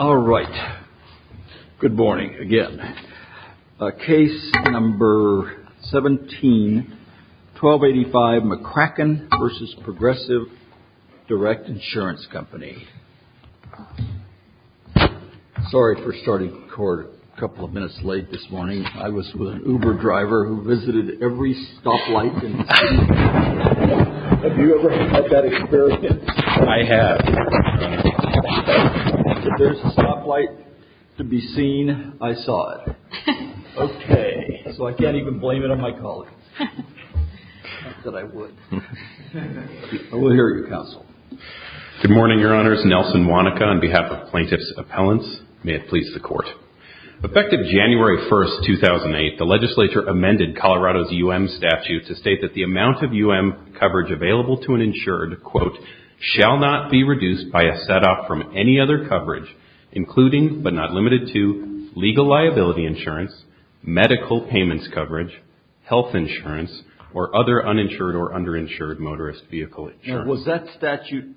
All right, good morning again. Case number 17, 1285 McCracken v. Progressive Direct Insurance Company. Sorry for starting a couple of minutes late this morning. I was with an Uber driver who visited every stoplight in the city. Have you ever had that experience? I have. If there's a stoplight to be seen, I saw it. Okay. So I can't even blame it on my colleague. Not that I would. We'll hear your counsel. Good morning, Your Honors. Nelson Wanaka on behalf of Plaintiff's Appellants. May it please the Court. Effective January 1, 2008, the legislature amended Colorado's U.M. statute to state that the amount of U.M. coverage available to an insured, quote, shall not be reduced by a set-off from any other coverage, including but not limited to legal liability insurance, medical payments coverage, health insurance, or other uninsured or underinsured motorist vehicle insurance. Now was that statute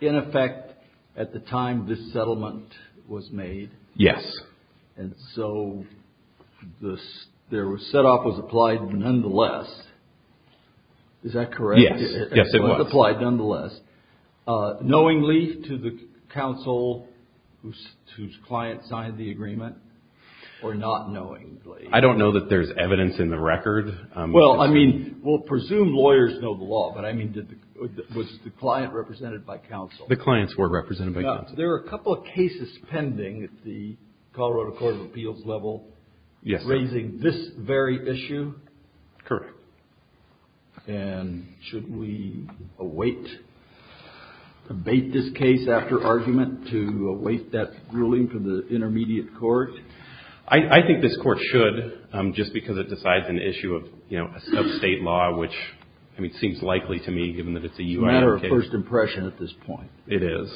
in effect at the time this settlement was made? Yes. And so the set-off was applied nonetheless. Is that correct? Yes. Yes, it was. It was applied nonetheless, knowingly to the counsel whose client signed the agreement or not knowingly? I don't know that there's evidence in the record. Well, I mean, we'll presume lawyers know the law, but I mean, was the client represented by counsel? The clients were represented by counsel. There are a couple of cases pending at the Colorado Court of Appeals level raising this very issue. Correct. And should we await, debate this case after argument to await that ruling from the intermediate court? I think this Court should, just because it decides an issue of, you know, a sub-state law, which, I mean, seems likely to me, given that it's a U.N. case. It's a matter of first impression at this point. It is.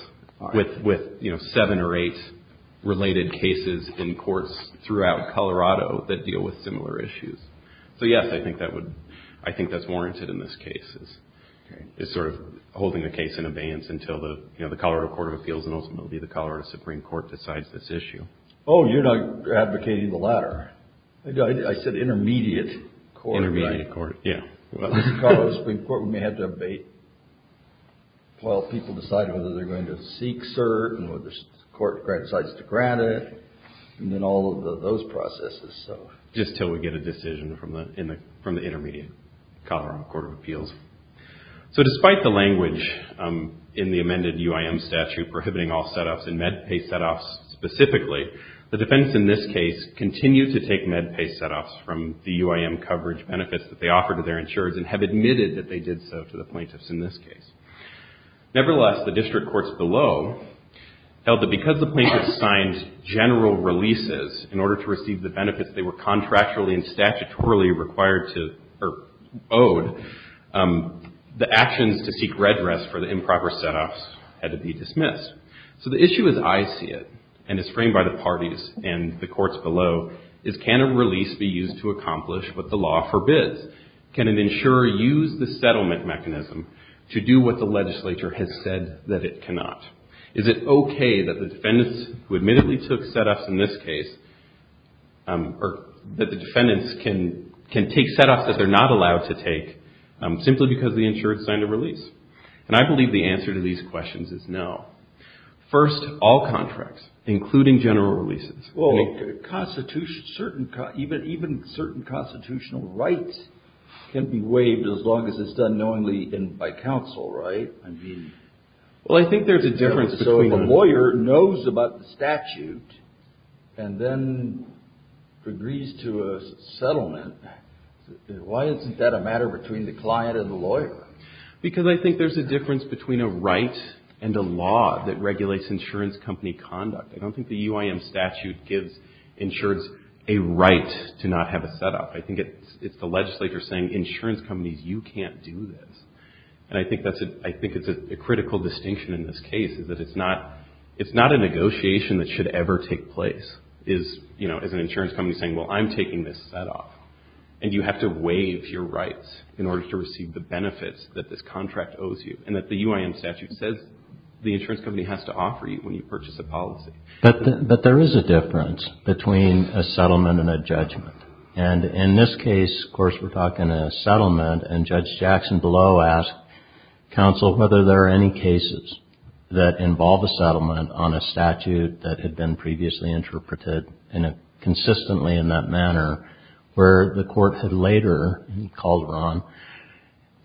With, you know, seven or eight related cases in courts throughout Colorado that deal with similar issues. So, yes, I think that's warranted in this case, is sort of holding the case in abeyance until the Colorado Court of Appeals and ultimately the Colorado Supreme Court decides this issue. Oh, you're not advocating the latter. I said intermediate court, right? Intermediate court, yeah. The Colorado Supreme Court may have to abate while people decide whether they're going to seek cert and whether the court decides to grant it and then all of those processes. Just until we get a decision from the intermediate Colorado Court of Appeals. So, despite the language in the amended UIM statute prohibiting all set-offs and MedPay set-offs specifically, the defense in this case continues to take MedPay set-offs from the UIM coverage benefits that they offer to their insurers and have admitted that they did so to the plaintiffs in this case. Nevertheless, the district courts below held that because the plaintiffs signed general releases in order to receive the benefits they were contractually and statutorily required to, or owed, the actions to seek redress for the improper set-offs had to be dismissed. So the issue as I see it, and as framed by the parties and the courts below, is can a release be used to accomplish what the law forbids? Can an insurer use the settlement mechanism to do what the legislature has said that it cannot? Is it okay that the defendants who admittedly took set-offs in this case, or that the defendants can take set-offs that they're not allowed to take simply because the insurer signed a release? And I believe the answer to these questions is no. First, all contracts, including general releases, even certain constitutional rights can be waived as long as it's done knowingly by counsel, right? Well, I think there's a difference. So if a lawyer knows about the statute and then agrees to a settlement, why isn't that a matter between the client and the lawyer? Because I think there's a difference between a right and a law that regulates insurance company conduct. I don't think the UIM statute gives insurers a right to not have a set-off. I think it's the legislature saying, insurance companies, you can't do this. And I think it's a critical distinction in this case, is that it's not a negotiation that should ever take place, is an insurance company saying, well, I'm taking this set-off. And you have to waive your rights in order to receive the benefits that this contract owes you, and that the UIM statute says the insurance company has to offer you when you purchase a policy. But there is a difference between a settlement and a judgment. And in this case, of course, we're talking a settlement, and Judge Jackson below asked counsel whether there are any cases that involve a settlement on a statute that had been previously interpreted consistently in that manner, where the court had later called her on,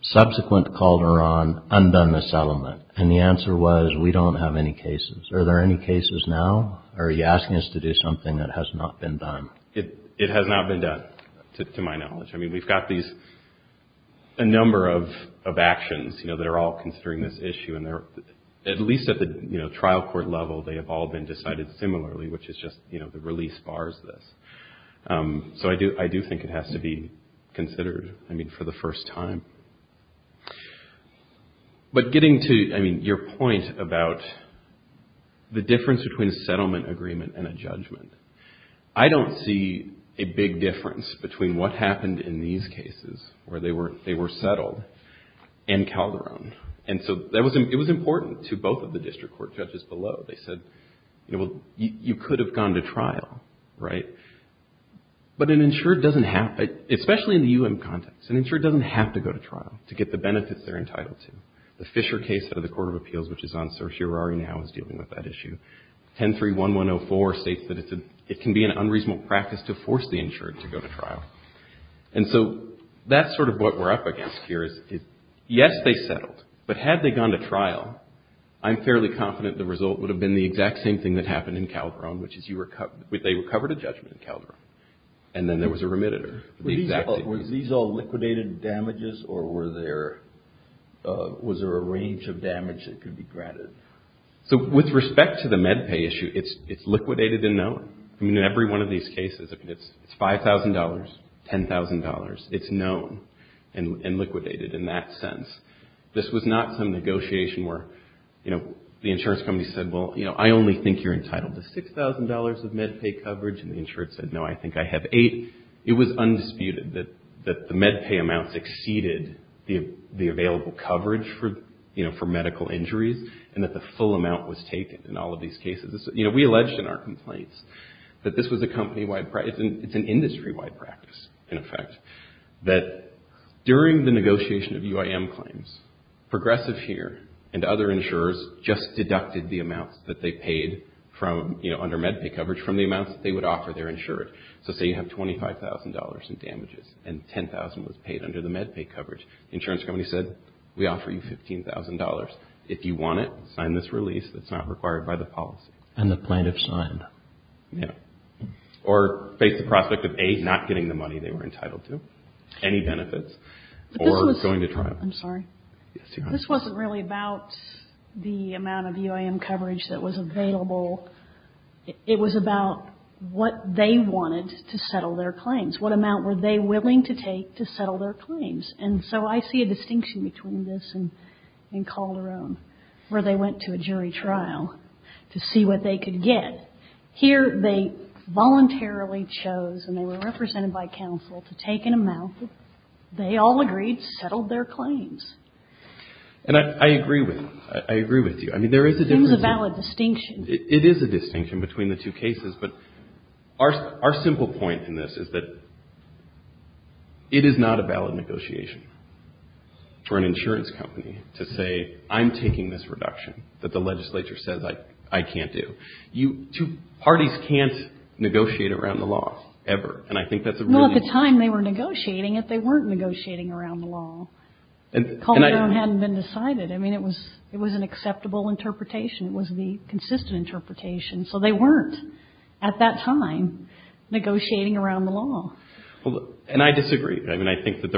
subsequent called her on, undone the settlement. And the answer was, we don't have any cases. Are there any cases now, or are you asking us to do something that has not been done? It has not been done, to my knowledge. I mean, we've got a number of actions that are all considering this issue, and at least at the trial court level, they have all been decided similarly, which is just, you know, the release bars this. So I do think it has to be considered, I mean, for the first time. But getting to, I mean, your point about the difference between a settlement agreement and a judgment, I don't see a big difference between what happened in these cases, where they were settled, and Calderon. And so it was important to both of the district court judges below. They said, you know, well, you could have gone to trial, right? But an insured doesn't have, especially in the U.M. context, an insured doesn't have to go to trial to get the benefits they're entitled to. The Fisher case out of the Court of Appeals, which is on certiorari now, is dealing with that issue. 1031104 states that it can be an unreasonable practice to force the insured to go to trial. And so that's sort of what we're up against here, is yes, they settled, but had they gone to trial, I'm fairly confident the result would have been the exact same thing that happened in Calderon, which is they recovered a judgment in Calderon, and then there was a remitted. Was these all liquidated damages, or was there a range of damage that could be granted? So with respect to the MedPay issue, it's liquidated and known. I mean, in every one of these cases, it's $5,000, $10,000. It's known and liquidated in that sense. This was not some negotiation where, you know, the insurance company said, well, you know, I only think you're entitled to $6,000 of MedPay coverage, and the insured said, no, I think I have $8,000. It was undisputed that the MedPay amounts exceeded the available coverage for, you know, for medical injuries, and that the full amount was taken in all of these cases. You know, we alleged in our complaints that this was a company-wide practice. It's an industry-wide practice, in effect. That during the negotiation of UIM claims, Progressive here and other insurers just deducted the amounts that they paid from, you know, under MedPay coverage from the amounts that they would offer their insured. So say you have $25,000 in damages, and $10,000 was paid under the MedPay coverage. The insurance company said, we offer you $15,000. If you want it, sign this release. It's not required by the policy. And the plaintiff signed. Or face the prospect of, A, not getting the money they were entitled to, any benefits, or going to trial. I'm sorry. This wasn't really about the amount of UIM coverage that was available. It was about what they wanted to settle their claims. What amount were they willing to take to settle their claims? And so I see a distinction between this and Calderon, where they went to a jury trial to see what they could get. Here they voluntarily chose, and they were represented by counsel, to take an amount. They all agreed to settle their claims. And I agree with you. I agree with you. I mean, there is a difference. It's a valid distinction. It is a distinction between the two cases. But our simple point in this is that it is not a valid negotiation for an insurance company to say, I'm taking this reduction that the legislature says I can't do. Parties can't negotiate around the law, ever. And I think that's a really important point. Well, at the time they were negotiating it, they weren't negotiating around the law. Calderon hadn't been decided. I mean, it was an acceptable interpretation. It was the consistent interpretation. So they weren't, at that time, negotiating around the law. And I disagree. I mean, I think that's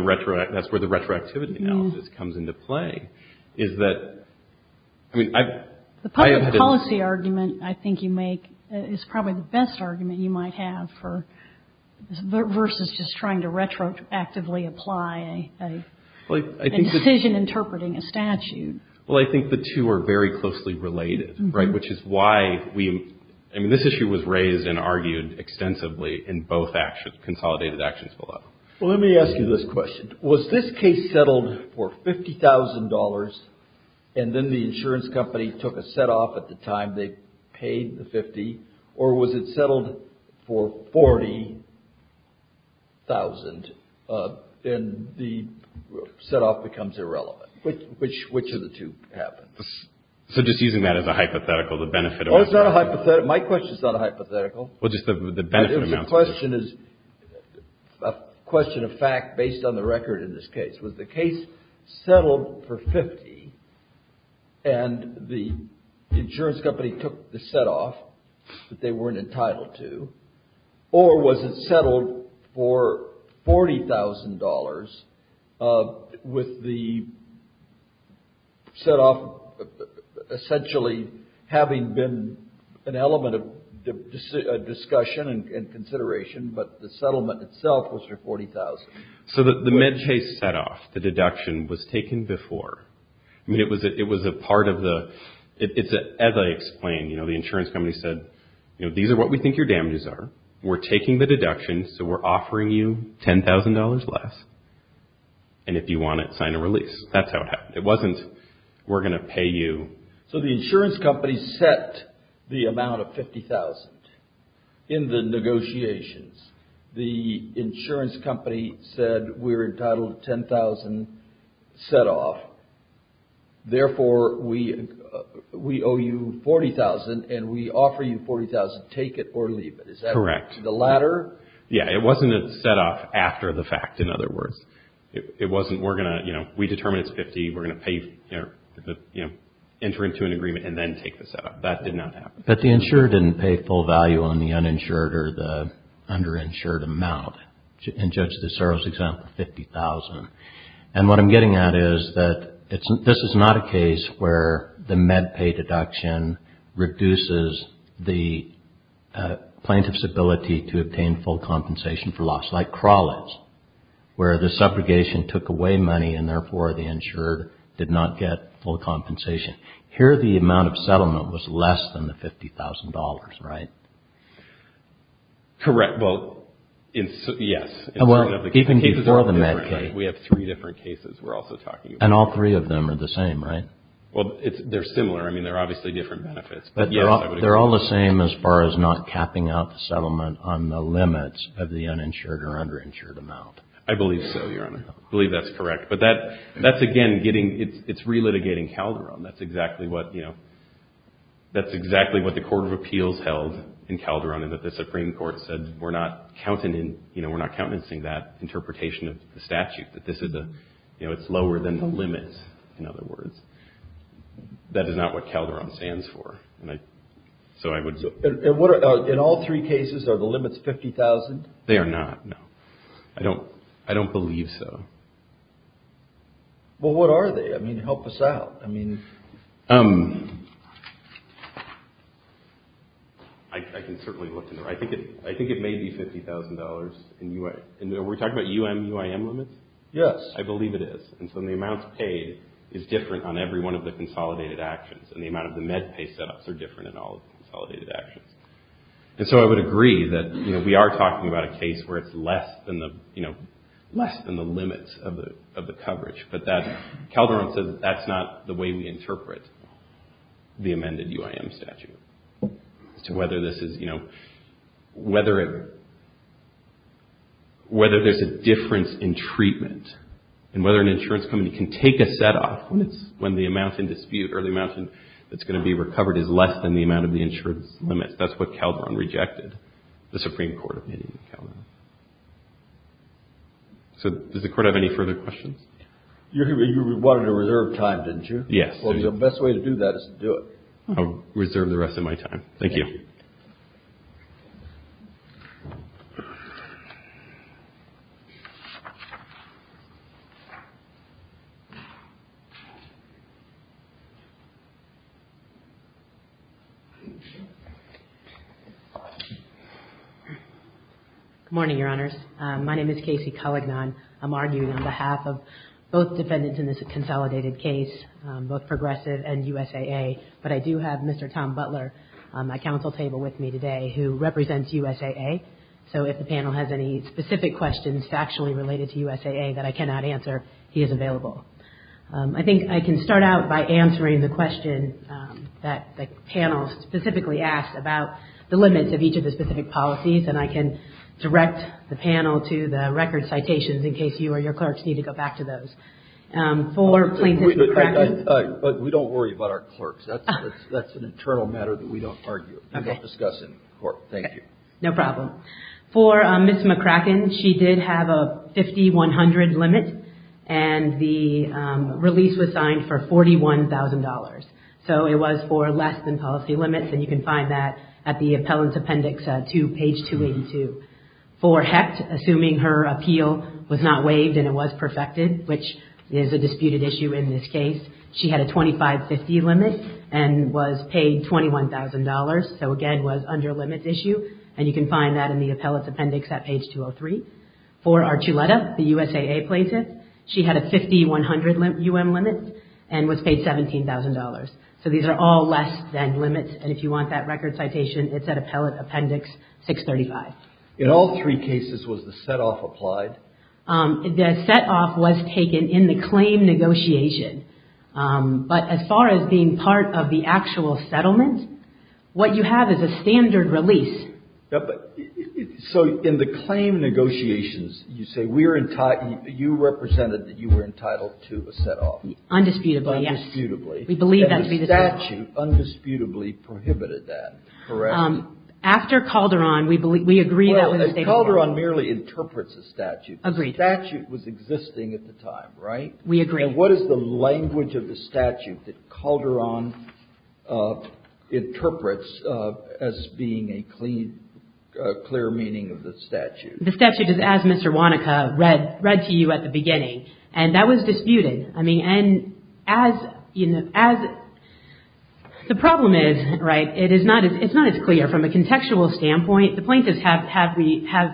where the retroactivity analysis comes into play, is that, I mean, I've... The policy argument I think you make is probably the best argument you might have for, versus just trying to retroactively apply a decision interpreting a statute. Well, I think the two are very closely related, right? Which is why we, I mean, this issue was raised and argued extensively in both actions, consolidated actions below. Well, let me ask you this question. Was this case settled for $50,000, and then the insurance company took a set-off at the time they paid the 50, or was it settled for $40,000, and the set-off becomes irrelevant? Which of the two happened? So just using that as a hypothetical, the benefit... Oh, it's not a hypothetical. My question's not a hypothetical. Well, just the benefit amount. The question is, a question of fact based on the record in this case. Was the case settled for $50,000, and the insurance company took the set-off that they weren't entitled to, or was it settled for $40,000 with the set-off essentially having been an element of discussion and consideration, but the settlement itself was for $40,000? So the MedChase set-off, the deduction, was taken before. I mean, it was a part of the... As I explained, the insurance company said, you know, these are what we think your damages are. We're taking the deduction, so we're offering you $10,000 less, and if you want it, sign a release. That's how it happened. It wasn't, we're going to pay you. So the insurance company set the amount of $50,000 in the negotiations. The insurance company said, we're entitled to $10,000 set-off. Therefore, we owe you $40,000, and we offer you $40,000. Take it or leave it. Correct. Is that the latter? Yeah, it wasn't a set-off after the fact, in other words. It wasn't, we're going to, you know, we determine it's $50,000. We're going to pay, you know, enter into an agreement and then take the set-off. That did not happen. But the insurer didn't pay full value on the uninsured or the underinsured amount. In Judge DeSero's example, $50,000. And what I'm getting at is that this is not a case where the MedPay deduction reduces the plaintiff's ability to obtain full compensation for loss, like Crawley's, where the subrogation took away money and, therefore, the insured did not get full compensation. Here, the amount of settlement was less than the $50,000, right? Correct. Well, yes. Even before the MedPay. We have three different cases we're also talking about. And all three of them are the same, right? Well, they're similar. I mean, they're obviously different benefits. But they're all the same as far as not capping out the settlement on the limits of the uninsured or underinsured amount. I believe so, Your Honor. I believe that's correct. But that's, again, getting, it's relitigating Calderon. That's exactly what, you know, that's exactly what the Court of Appeals held in Calderon, and that the Supreme Court said we're not countenancing that interpretation of the statute, that this is a, you know, it's lower than the limit, in other words. That is not what Calderon stands for. So I would. In all three cases, are the limits $50,000? They are not, no. I don't believe so. Well, what are they? I mean, help us out. I mean, I can certainly look into it. I think it may be $50,000 in UIM. And were we talking about UIM limits? Yes. I believe it is. And so the amount paid is different on every one of the consolidated actions, and the amount of the MedPay set-ups are different in all of the consolidated actions. And so I would agree that, you know, we are talking about a case where it's less than the, you know, less than the limits of the coverage. But Calderon says that's not the way we interpret the amended UIM statute, as to whether this is, you know, whether there's a difference in treatment and whether an insurance company can take a set-up when the amount in dispute or the amount that's going to be recovered is less than the amount of the insurance limits. That's what Calderon rejected, the Supreme Court opinion of Calderon. So does the Court have any further questions? You wanted to reserve time, didn't you? Yes. Well, the best way to do that is to do it. I'll reserve the rest of my time. Thank you. Thank you. Good morning, Your Honors. My name is Casey Culligan. I'm arguing on behalf of both defendants in this consolidated case, both Progressive and USAA. But I do have Mr. Tom Butler at my counsel table with me today, who represents USAA. So if the panel has any specific questions factually related to USAA that I cannot answer, he is available. I think I can start out by answering the question that the panel specifically asked about the limits of each of the specific policies, and I can direct the panel to the record citations in case you or your clerks need to go back to those. For plaintiff's practice. But we don't worry about our clerks. That's an internal matter that we don't argue. We don't discuss it in court. Thank you. Okay. No problem. For Ms. McCracken, she did have a 50-100 limit, and the release was signed for $41,000. So it was for less than policy limits, and you can find that at the appellant's appendix to page 282. For Hecht, assuming her appeal was not waived and it was perfected, which is a disputed issue in this case, she had a 25-50 limit and was paid $21,000. So, again, was under limits issue, and you can find that in the appellant's appendix at page 203. For Archuleta, the USAA plaintiff, she had a 50-100 UM limit and was paid $17,000. So these are all less than limits, and if you want that record citation, it's at appellant appendix 635. In all three cases, was the set-off applied? The set-off was taken in the claim negotiation. But as far as being part of the actual settlement, what you have is a standard release. But so in the claim negotiations, you say we're entitled, you represented that you were entitled to a set-off. Undisputably, yes. Undisputably. We believe that to be the case. And the statute undisputably prohibited that, correct? After Calderon, we believe, we agree that was a statement. Well, Calderon merely interprets the statute. Agreed. The statute was existing at the time, right? We agree. And what is the language of the statute that Calderon interprets as being a clear meaning of the statute? The statute is as Mr. Wanaka read to you at the beginning, and that was disputed. I mean, and as, you know, as the problem is, right, it is not as clear from a contextual standpoint. The point is, have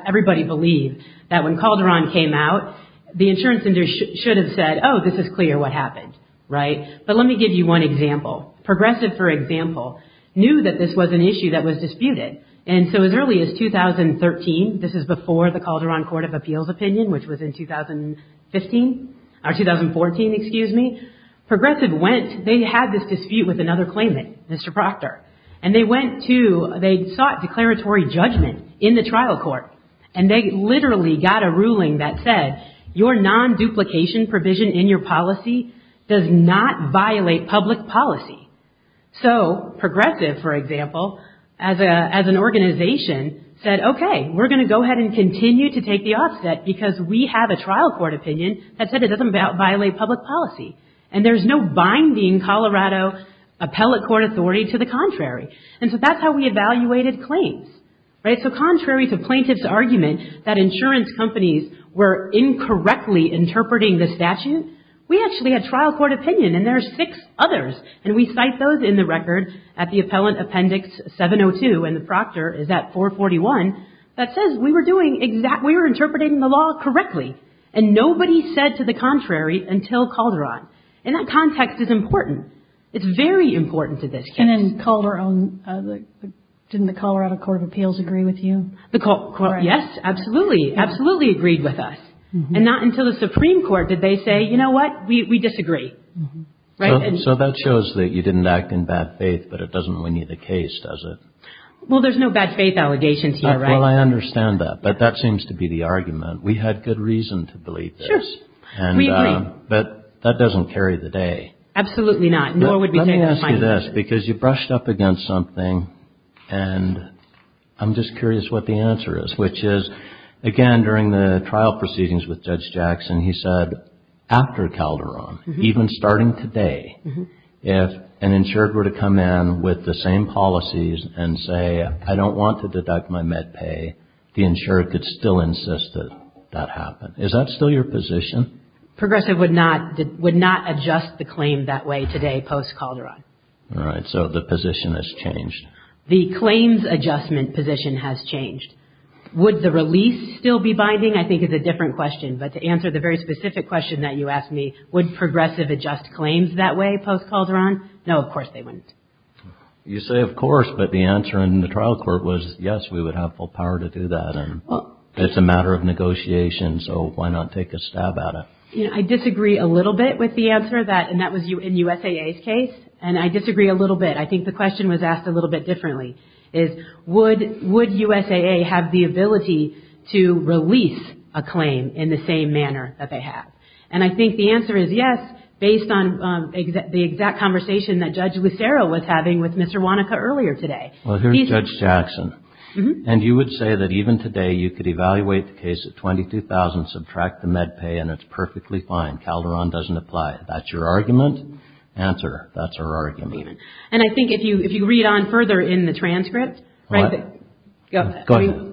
everybody believed that when Calderon came out, the insurance industry should have said, oh, this is clear what happened. Right? But let me give you one example. Progressive, for example, knew that this was an issue that was disputed. And so as early as 2013, this is before the Calderon Court of Appeals opinion, which was in 2015, or 2014, excuse me. Progressive went, they had this dispute with another claimant, Mr. Proctor. And they went to, they sought declaratory judgment in the trial court, and they literally got a ruling that said, your non-duplication provision in your policy does not violate public policy. So Progressive, for example, as an organization, said, okay, we're going to go ahead and continue to take the offset because we have a trial court opinion that said it doesn't violate public policy. And there's no binding Colorado appellate court authority to the contrary. And so that's how we evaluated claims. Right? So contrary to plaintiff's argument that insurance companies were incorrectly interpreting the statute, we actually had trial court opinion, and there are six others. And we cite those in the record at the Appellant Appendix 702, and the Proctor is at 441, that says we were doing exact, we were interpreting the law correctly. And nobody said to the contrary until Calderon. And that context is important. It's very important to this case. And in Calderon, didn't the Colorado Court of Appeals agree with you? Yes, absolutely. Absolutely agreed with us. And not until the Supreme Court did they say, you know what, we disagree. So that shows that you didn't act in bad faith, but it doesn't win you the case, does it? Well, there's no bad faith allegations here, right? Well, I understand that. But that seems to be the argument. We had good reason to believe this. Sure. We agree. But that doesn't carry the day. Absolutely not. Nor would we take it. Let me ask you this, because you brushed up against something, and I'm just curious what the answer is, which is, again, during the trial proceedings with Judge Jackson, he said after Calderon, even starting today, if an insured were to come in with the same policies and say, I don't want to deduct my med pay, the insured could still insist that that happen. Is that still your position? Progressive would not adjust the claim that way today, post-Calderon. All right. So the position has changed. The claims adjustment position has changed. Would the release still be binding? I think it's a different question. But to answer the very specific question that you asked me, would Progressive adjust claims that way post-Calderon? No, of course they wouldn't. You say of course, but the answer in the trial court was, yes, we would have full power to do that. It's a matter of negotiation, so why not take a stab at it? I disagree a little bit with the answer, and that was in USAA's case. And I disagree a little bit. I think the question was asked a little bit differently. Would USAA have the ability to release a claim in the same manner that they have? And I think the answer is yes, based on the exact conversation that Judge Lucero was having with Mr. Wanaka earlier today. Well, here's Judge Jackson. And you would say that even today you could evaluate the case at $22,000, subtract the med pay, and it's perfectly fine. Calderon doesn't apply. That's your argument? Answer. That's her argument. And I think if you read on further in the transcript. Go ahead.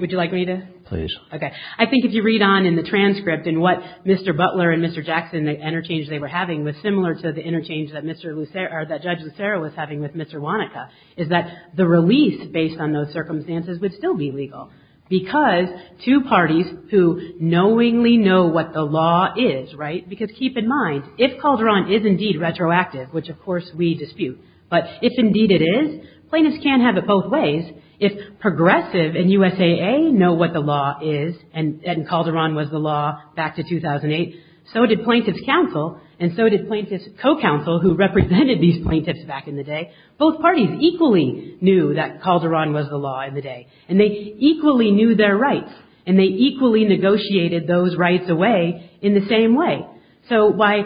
Would you like me to? Please. Okay. I think if you read on in the transcript and what Mr. Butler and Mr. Jackson, the interchange they were having, was similar to the interchange that Judge Lucero was having with Mr. Wanaka, is that the release, based on those circumstances, would still be legal. Because two parties who knowingly know what the law is, right? Because keep in mind, if Calderon is indeed retroactive, which of course we dispute, but if indeed it is, plaintiffs can't have it both ways. If Progressive and USAA know what the law is, and Calderon was the law back to 2008, so did Plaintiff's Counsel and so did Plaintiff's Co-Counsel, who represented these plaintiffs back in the day. Both parties equally knew that Calderon was the law in the day. And they equally knew their rights. And they equally negotiated those rights away in the same way. So why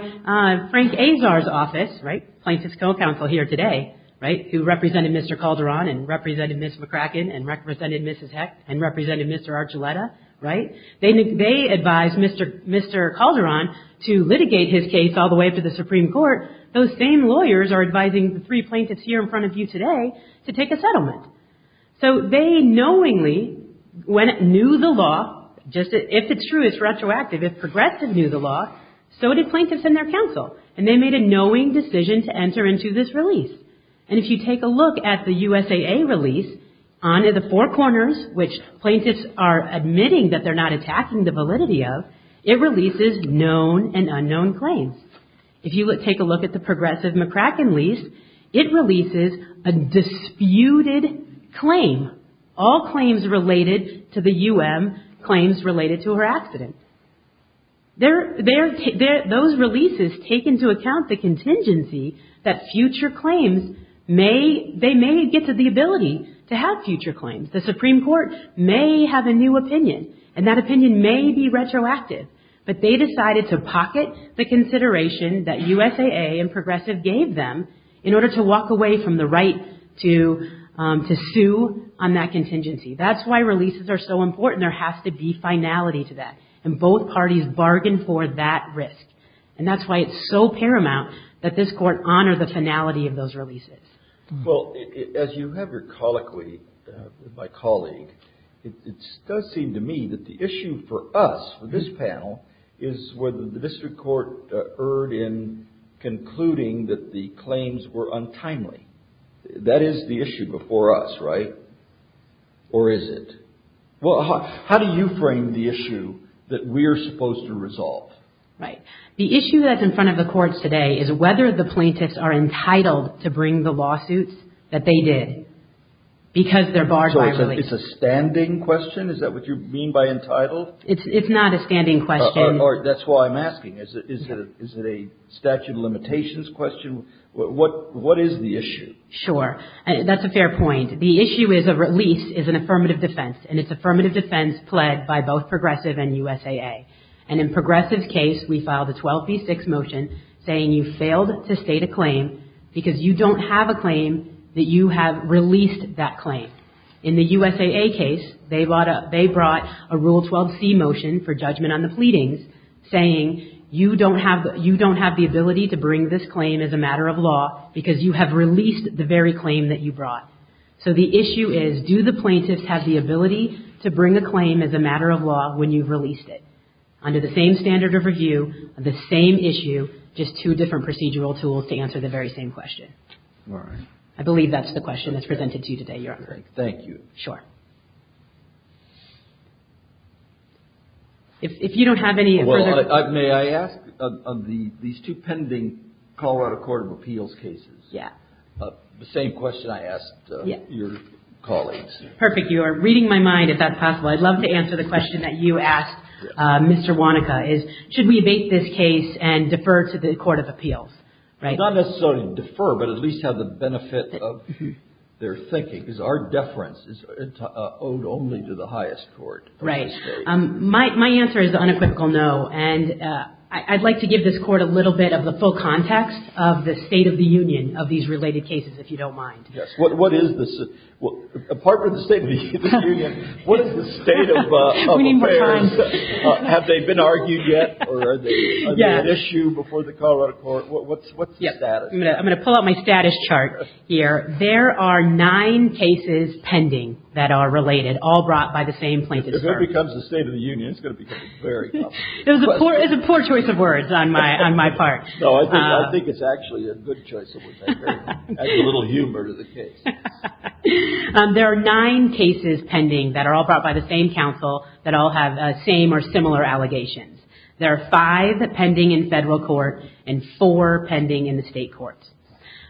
Frank Azar's office, right? Plaintiff's Co-Counsel here today, right? Who represented Mr. Calderon and represented Ms. McCracken and represented Mrs. Heck and represented Mr. Archuleta, right? They advised Mr. Calderon to litigate his case all the way up to the Supreme Court. Those same lawyers are advising the three plaintiffs here in front of you today to take a settlement. So they knowingly knew the law. If it's true, it's retroactive. If Progressive knew the law, so did Plaintiffs and their counsel. And they made a knowing decision to enter into this release. And if you take a look at the USAA release, on the four corners, which plaintiffs are admitting that they're not attacking the validity of, it releases known and unknown claims. If you take a look at the Progressive-McCracken lease, it releases a disputed claim. All claims related to the U.M., claims related to her accident. Those releases take into account the contingency that future claims may, they may get to the ability to have future claims. The Supreme Court may have a new opinion. And that opinion may be retroactive. But they decided to pocket the consideration that USAA and Progressive gave them in order to walk away from the right to sue on that contingency. That's why releases are so important. There has to be finality to that. And both parties bargained for that risk. And that's why it's so paramount that this Court honor the finality of those releases. Well, as you have your colloquy, my colleague, it does seem to me that the issue for us, for this panel, is whether the district court erred in concluding that the claims were untimely. That is the issue before us, right? Or is it? Well, how do you frame the issue that we are supposed to resolve? Right. The issue that's in front of the courts today is whether the plaintiffs are entitled to bring the lawsuits that they did. Because they're barred by release. So it's a standing question? Is that what you mean by entitled? It's not a standing question. That's why I'm asking. Is it a statute of limitations question? What is the issue? Sure. That's a fair point. The issue is a release is an affirmative defense. And it's affirmative defense pled by both Progressive and USAA. And in Progressive's case, we filed a 12b6 motion saying you failed to state a claim because you don't have a claim that you have released that claim. In the USAA case, they brought a Rule 12c motion for judgment on the pleadings saying you don't have the ability to bring this claim as a matter of law because you have released the very claim that you brought. So the issue is, do the plaintiffs have the ability to bring a claim as a matter of law when you've released it? Under the same standard of review, the same issue, just two different procedural tools to answer the very same question. All right. I believe that's the question that's presented to you today, Your Honor. Thank you. Sure. If you don't have any further... Well, may I ask, of these two pending Colorado Court of Appeals cases... Yeah. ...the same question I asked your colleagues. Perfect. You are reading my mind, if that's possible. I'd love to answer the question that you asked Mr. Wanaka, is should we evade this case and defer to the Court of Appeals? Right. Not necessarily defer, but at least have the benefit of their thinking, because our deference is owed only to the highest court. Right. My answer is the unequivocal no. And I'd like to give this Court a little bit of the full context of the State of the Union of these related cases, if you don't mind. Yes. What is this? Apart from the State of the Union, what is the State of Affairs? We need more time. Have they been argued yet, or are they an issue before the Colorado Court? What's the status? I'm going to pull out my status chart here. There are nine cases pending that are related, all brought by the same plaintiff's firm. If it becomes the State of the Union, it's going to become very complicated. It's a poor choice of words on my part. No, I think it's actually a good choice of words. Adds a little humor to the case. There are nine cases pending that are all brought by the same counsel that all have the same or similar allegations. There are five pending in Federal court and four pending in the State courts.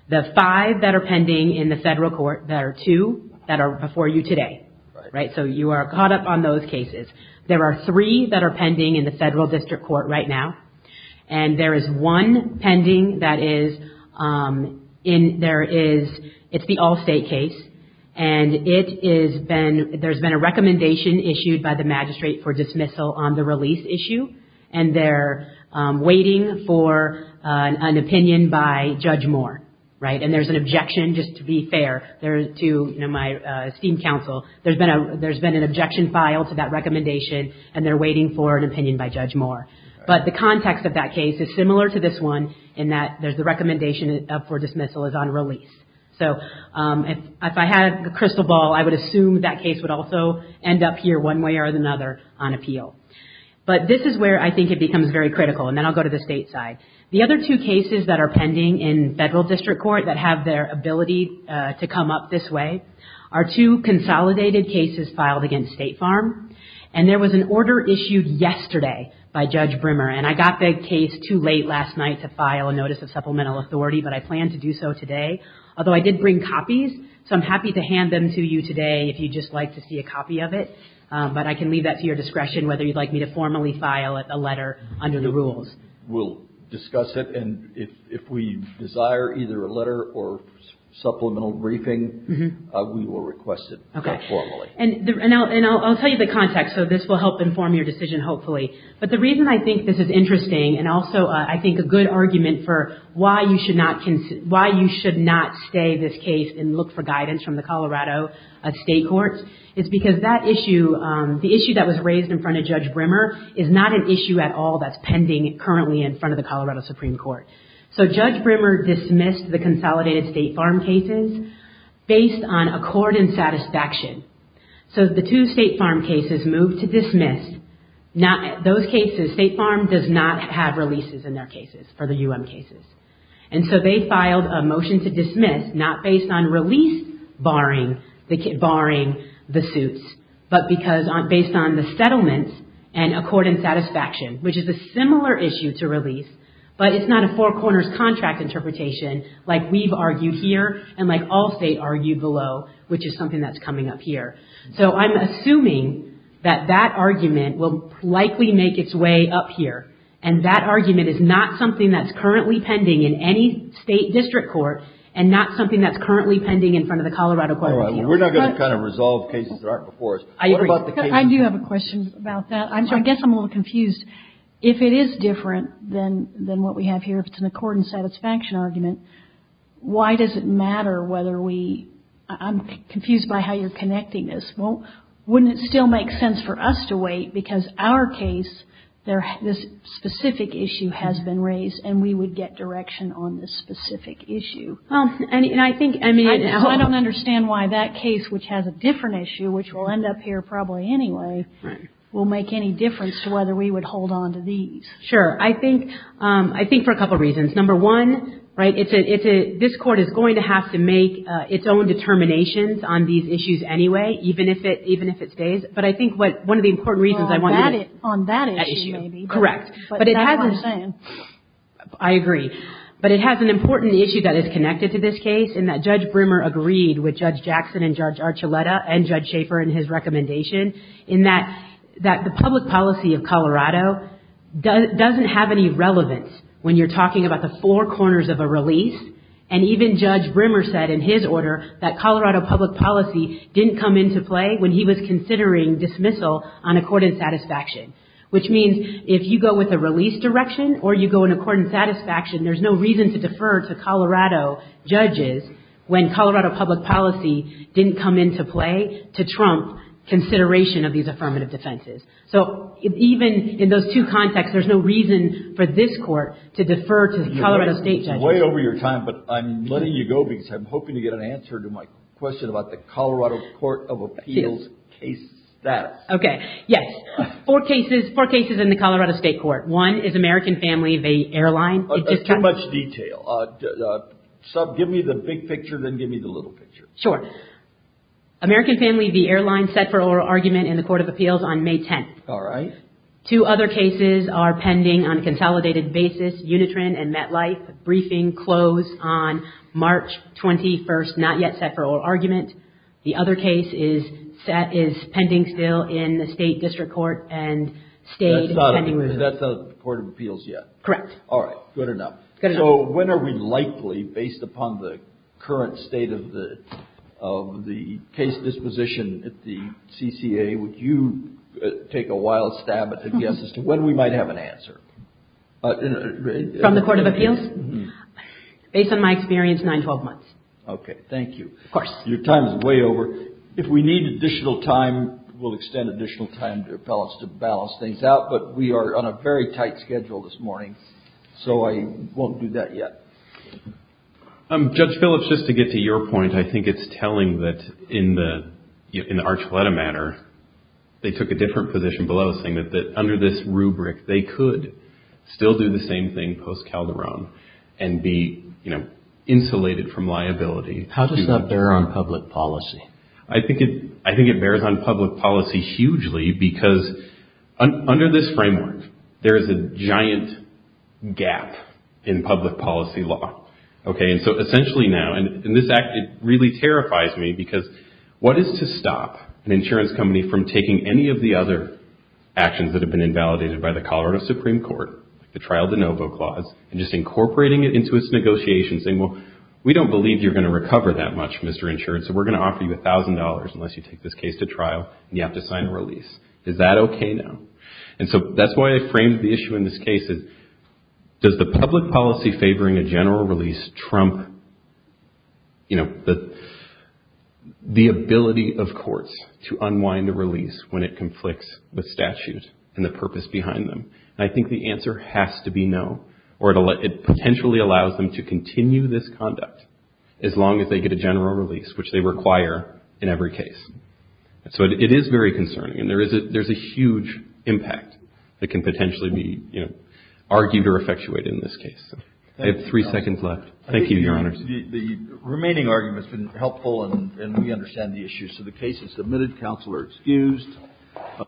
The five that are pending in the Federal court, there are two that are before you today. Right. So you are caught up on those cases. There are three that are pending in the Federal district court right now. And there is one pending that is in, there is, it's the Allstate case. And it has been, there's been a recommendation issued by the magistrate for dismissal on the release issue. And they're waiting for an opinion by Judge Moore. Right. And there's an objection, just to be fair, to my esteemed counsel. There's been an objection filed to that recommendation and they're waiting for an opinion by Judge Moore. But the context of that case is similar to this one in that there's the recommendation for dismissal is on release. So if I had a crystal ball, I would assume that case would also end up here one way or another on appeal. But this is where I think it becomes very critical. And then I'll go to the State side. The other two cases that are pending in Federal district court that have their ability to come up this way are two consolidated cases filed against State Farm. And there was an order issued yesterday by Judge Brimmer. And I got the case too late last night to file a notice of supplemental authority. But I plan to do so today. Although I did bring copies. So I'm happy to hand them to you today if you'd just like to see a copy of it. But I can leave that to your discretion whether you'd like me to formally file a letter under the rules. We'll discuss it. And if we desire either a letter or supplemental briefing, we will request it formally. Okay. And I'll tell you the context so this will help inform your decision hopefully. But the reason I think this is interesting and also I think a good argument for why you should not stay this case and look for guidance from the Colorado State Courts is because that issue, the issue that was raised in front of Judge Brimmer is not an issue at all that's pending currently in front of the Colorado Supreme Court. So Judge Brimmer dismissed the consolidated State Farm cases based on accord and satisfaction. So the two State Farm cases moved to dismiss. Those cases, State Farm does not have releases in their cases, for the UM cases. And so they filed a motion to dismiss not based on release barring the suits, but based on the settlements and accord and satisfaction, which is a similar issue to release. But it's not a four corners contract interpretation like we've argued here and like all State argued below, which is something that's coming up here. So I'm assuming that that argument will likely make its way up here. And that argument is not something that's currently pending in any State District Court and not something that's currently pending in front of the Colorado Court of Appeals. We're not going to kind of resolve cases that aren't before us. I do have a question about that. I guess I'm a little confused. If it is different than what we have here, if it's an accord and satisfaction argument, why does it matter whether we – I'm confused by how you're connecting this. Wouldn't it still make sense for us to wait because our case, this specific issue has been raised and we would get direction on this specific issue? I don't understand why that case, which has a different issue, which will end up here probably anyway, will make any difference to whether we would hold on to these. Sure. I think for a couple of reasons. Number one, this Court is going to have to make its own determinations on these issues anyway, even if it stays. But I think one of the important reasons I want to – On that issue, maybe. Correct. That's what I'm saying. I agree. But it has an important issue that is connected to this case in that Judge Brimmer agreed with Judge Jackson and Judge Archuleta and Judge Schaefer in his recommendation in that the public policy of Colorado doesn't have any relevance when you're talking about the four corners of a release. And even Judge Brimmer said in his order that Colorado public policy didn't come into play when he was considering dismissal on accord and satisfaction, which means if you go with a release direction or you go in accord and satisfaction, there's no reason to defer to Colorado judges when Colorado public policy didn't come into play to trump consideration of these affirmative defenses. So even in those two contexts, there's no reason for this Court to defer to Colorado state judges. It's way over your time, but I'm letting you go because I'm hoping to get an answer to my question about the Colorado Court of Appeals case status. Okay. Yes. Four cases in the Colorado State Court. One is American Family v. Airline. Too much detail. Sub, give me the big picture, then give me the little picture. Sure. American Family v. Airline set for oral argument in the Court of Appeals on May 10th. All right. Two other cases are pending on a consolidated basis, Unitron and MetLife. Briefing closed on March 21st, not yet set for oral argument. The other case is pending still in the state district court and state pending review. That's not in the Court of Appeals yet? Correct. All right. Good enough. Good enough. So when are we likely, based upon the current state of the case disposition at the CCA, would you take a wild stab at the guess as to when we might have an answer? From the Court of Appeals? Mm-hmm. Based on my experience, nine, 12 months. Okay. Thank you. Of course. Your time is way over. If we need additional time, we'll extend additional time to appellants to balance things out, but we are on a very tight schedule this morning, so I won't do that yet. Judge Phillips, just to get to your point, I think it's telling that in the Archuleta matter, they took a different position below saying that under this rubric, they could still do the same thing post-Calderon and be, you know, insulated from liability. How does that bear on public policy? I think it bears on public policy hugely because under this framework, there is a giant gap in public policy law. Okay. And so essentially now, and this act, it really terrifies me because what is to stop an insurance company from taking any of the other actions that have been invalidated by the Colorado Supreme Court, like the trial de novo clause, and just incorporating it into its negotiations, saying, well, we don't believe you're going to recover that much, Mr. Insurance, so we're going to offer you $1,000 unless you take this case to trial and you have to sign a release. Is that okay now? And so that's why I framed the issue in this case is, does the public policy favoring a general release trump, you know, the ability of courts to unwind a release when it conflicts with statute and the purpose behind them? And I think the answer has to be no, or it potentially allows them to continue this conduct as long as they get a general release, which they require in every case. So it is very concerning, and there is a huge impact that can potentially be, you know, argued or effectuated in this case. I have three seconds left. Thank you, Your Honors. The remaining argument has been helpful, and we understand the issues. So the case is submitted. Counsel are excused.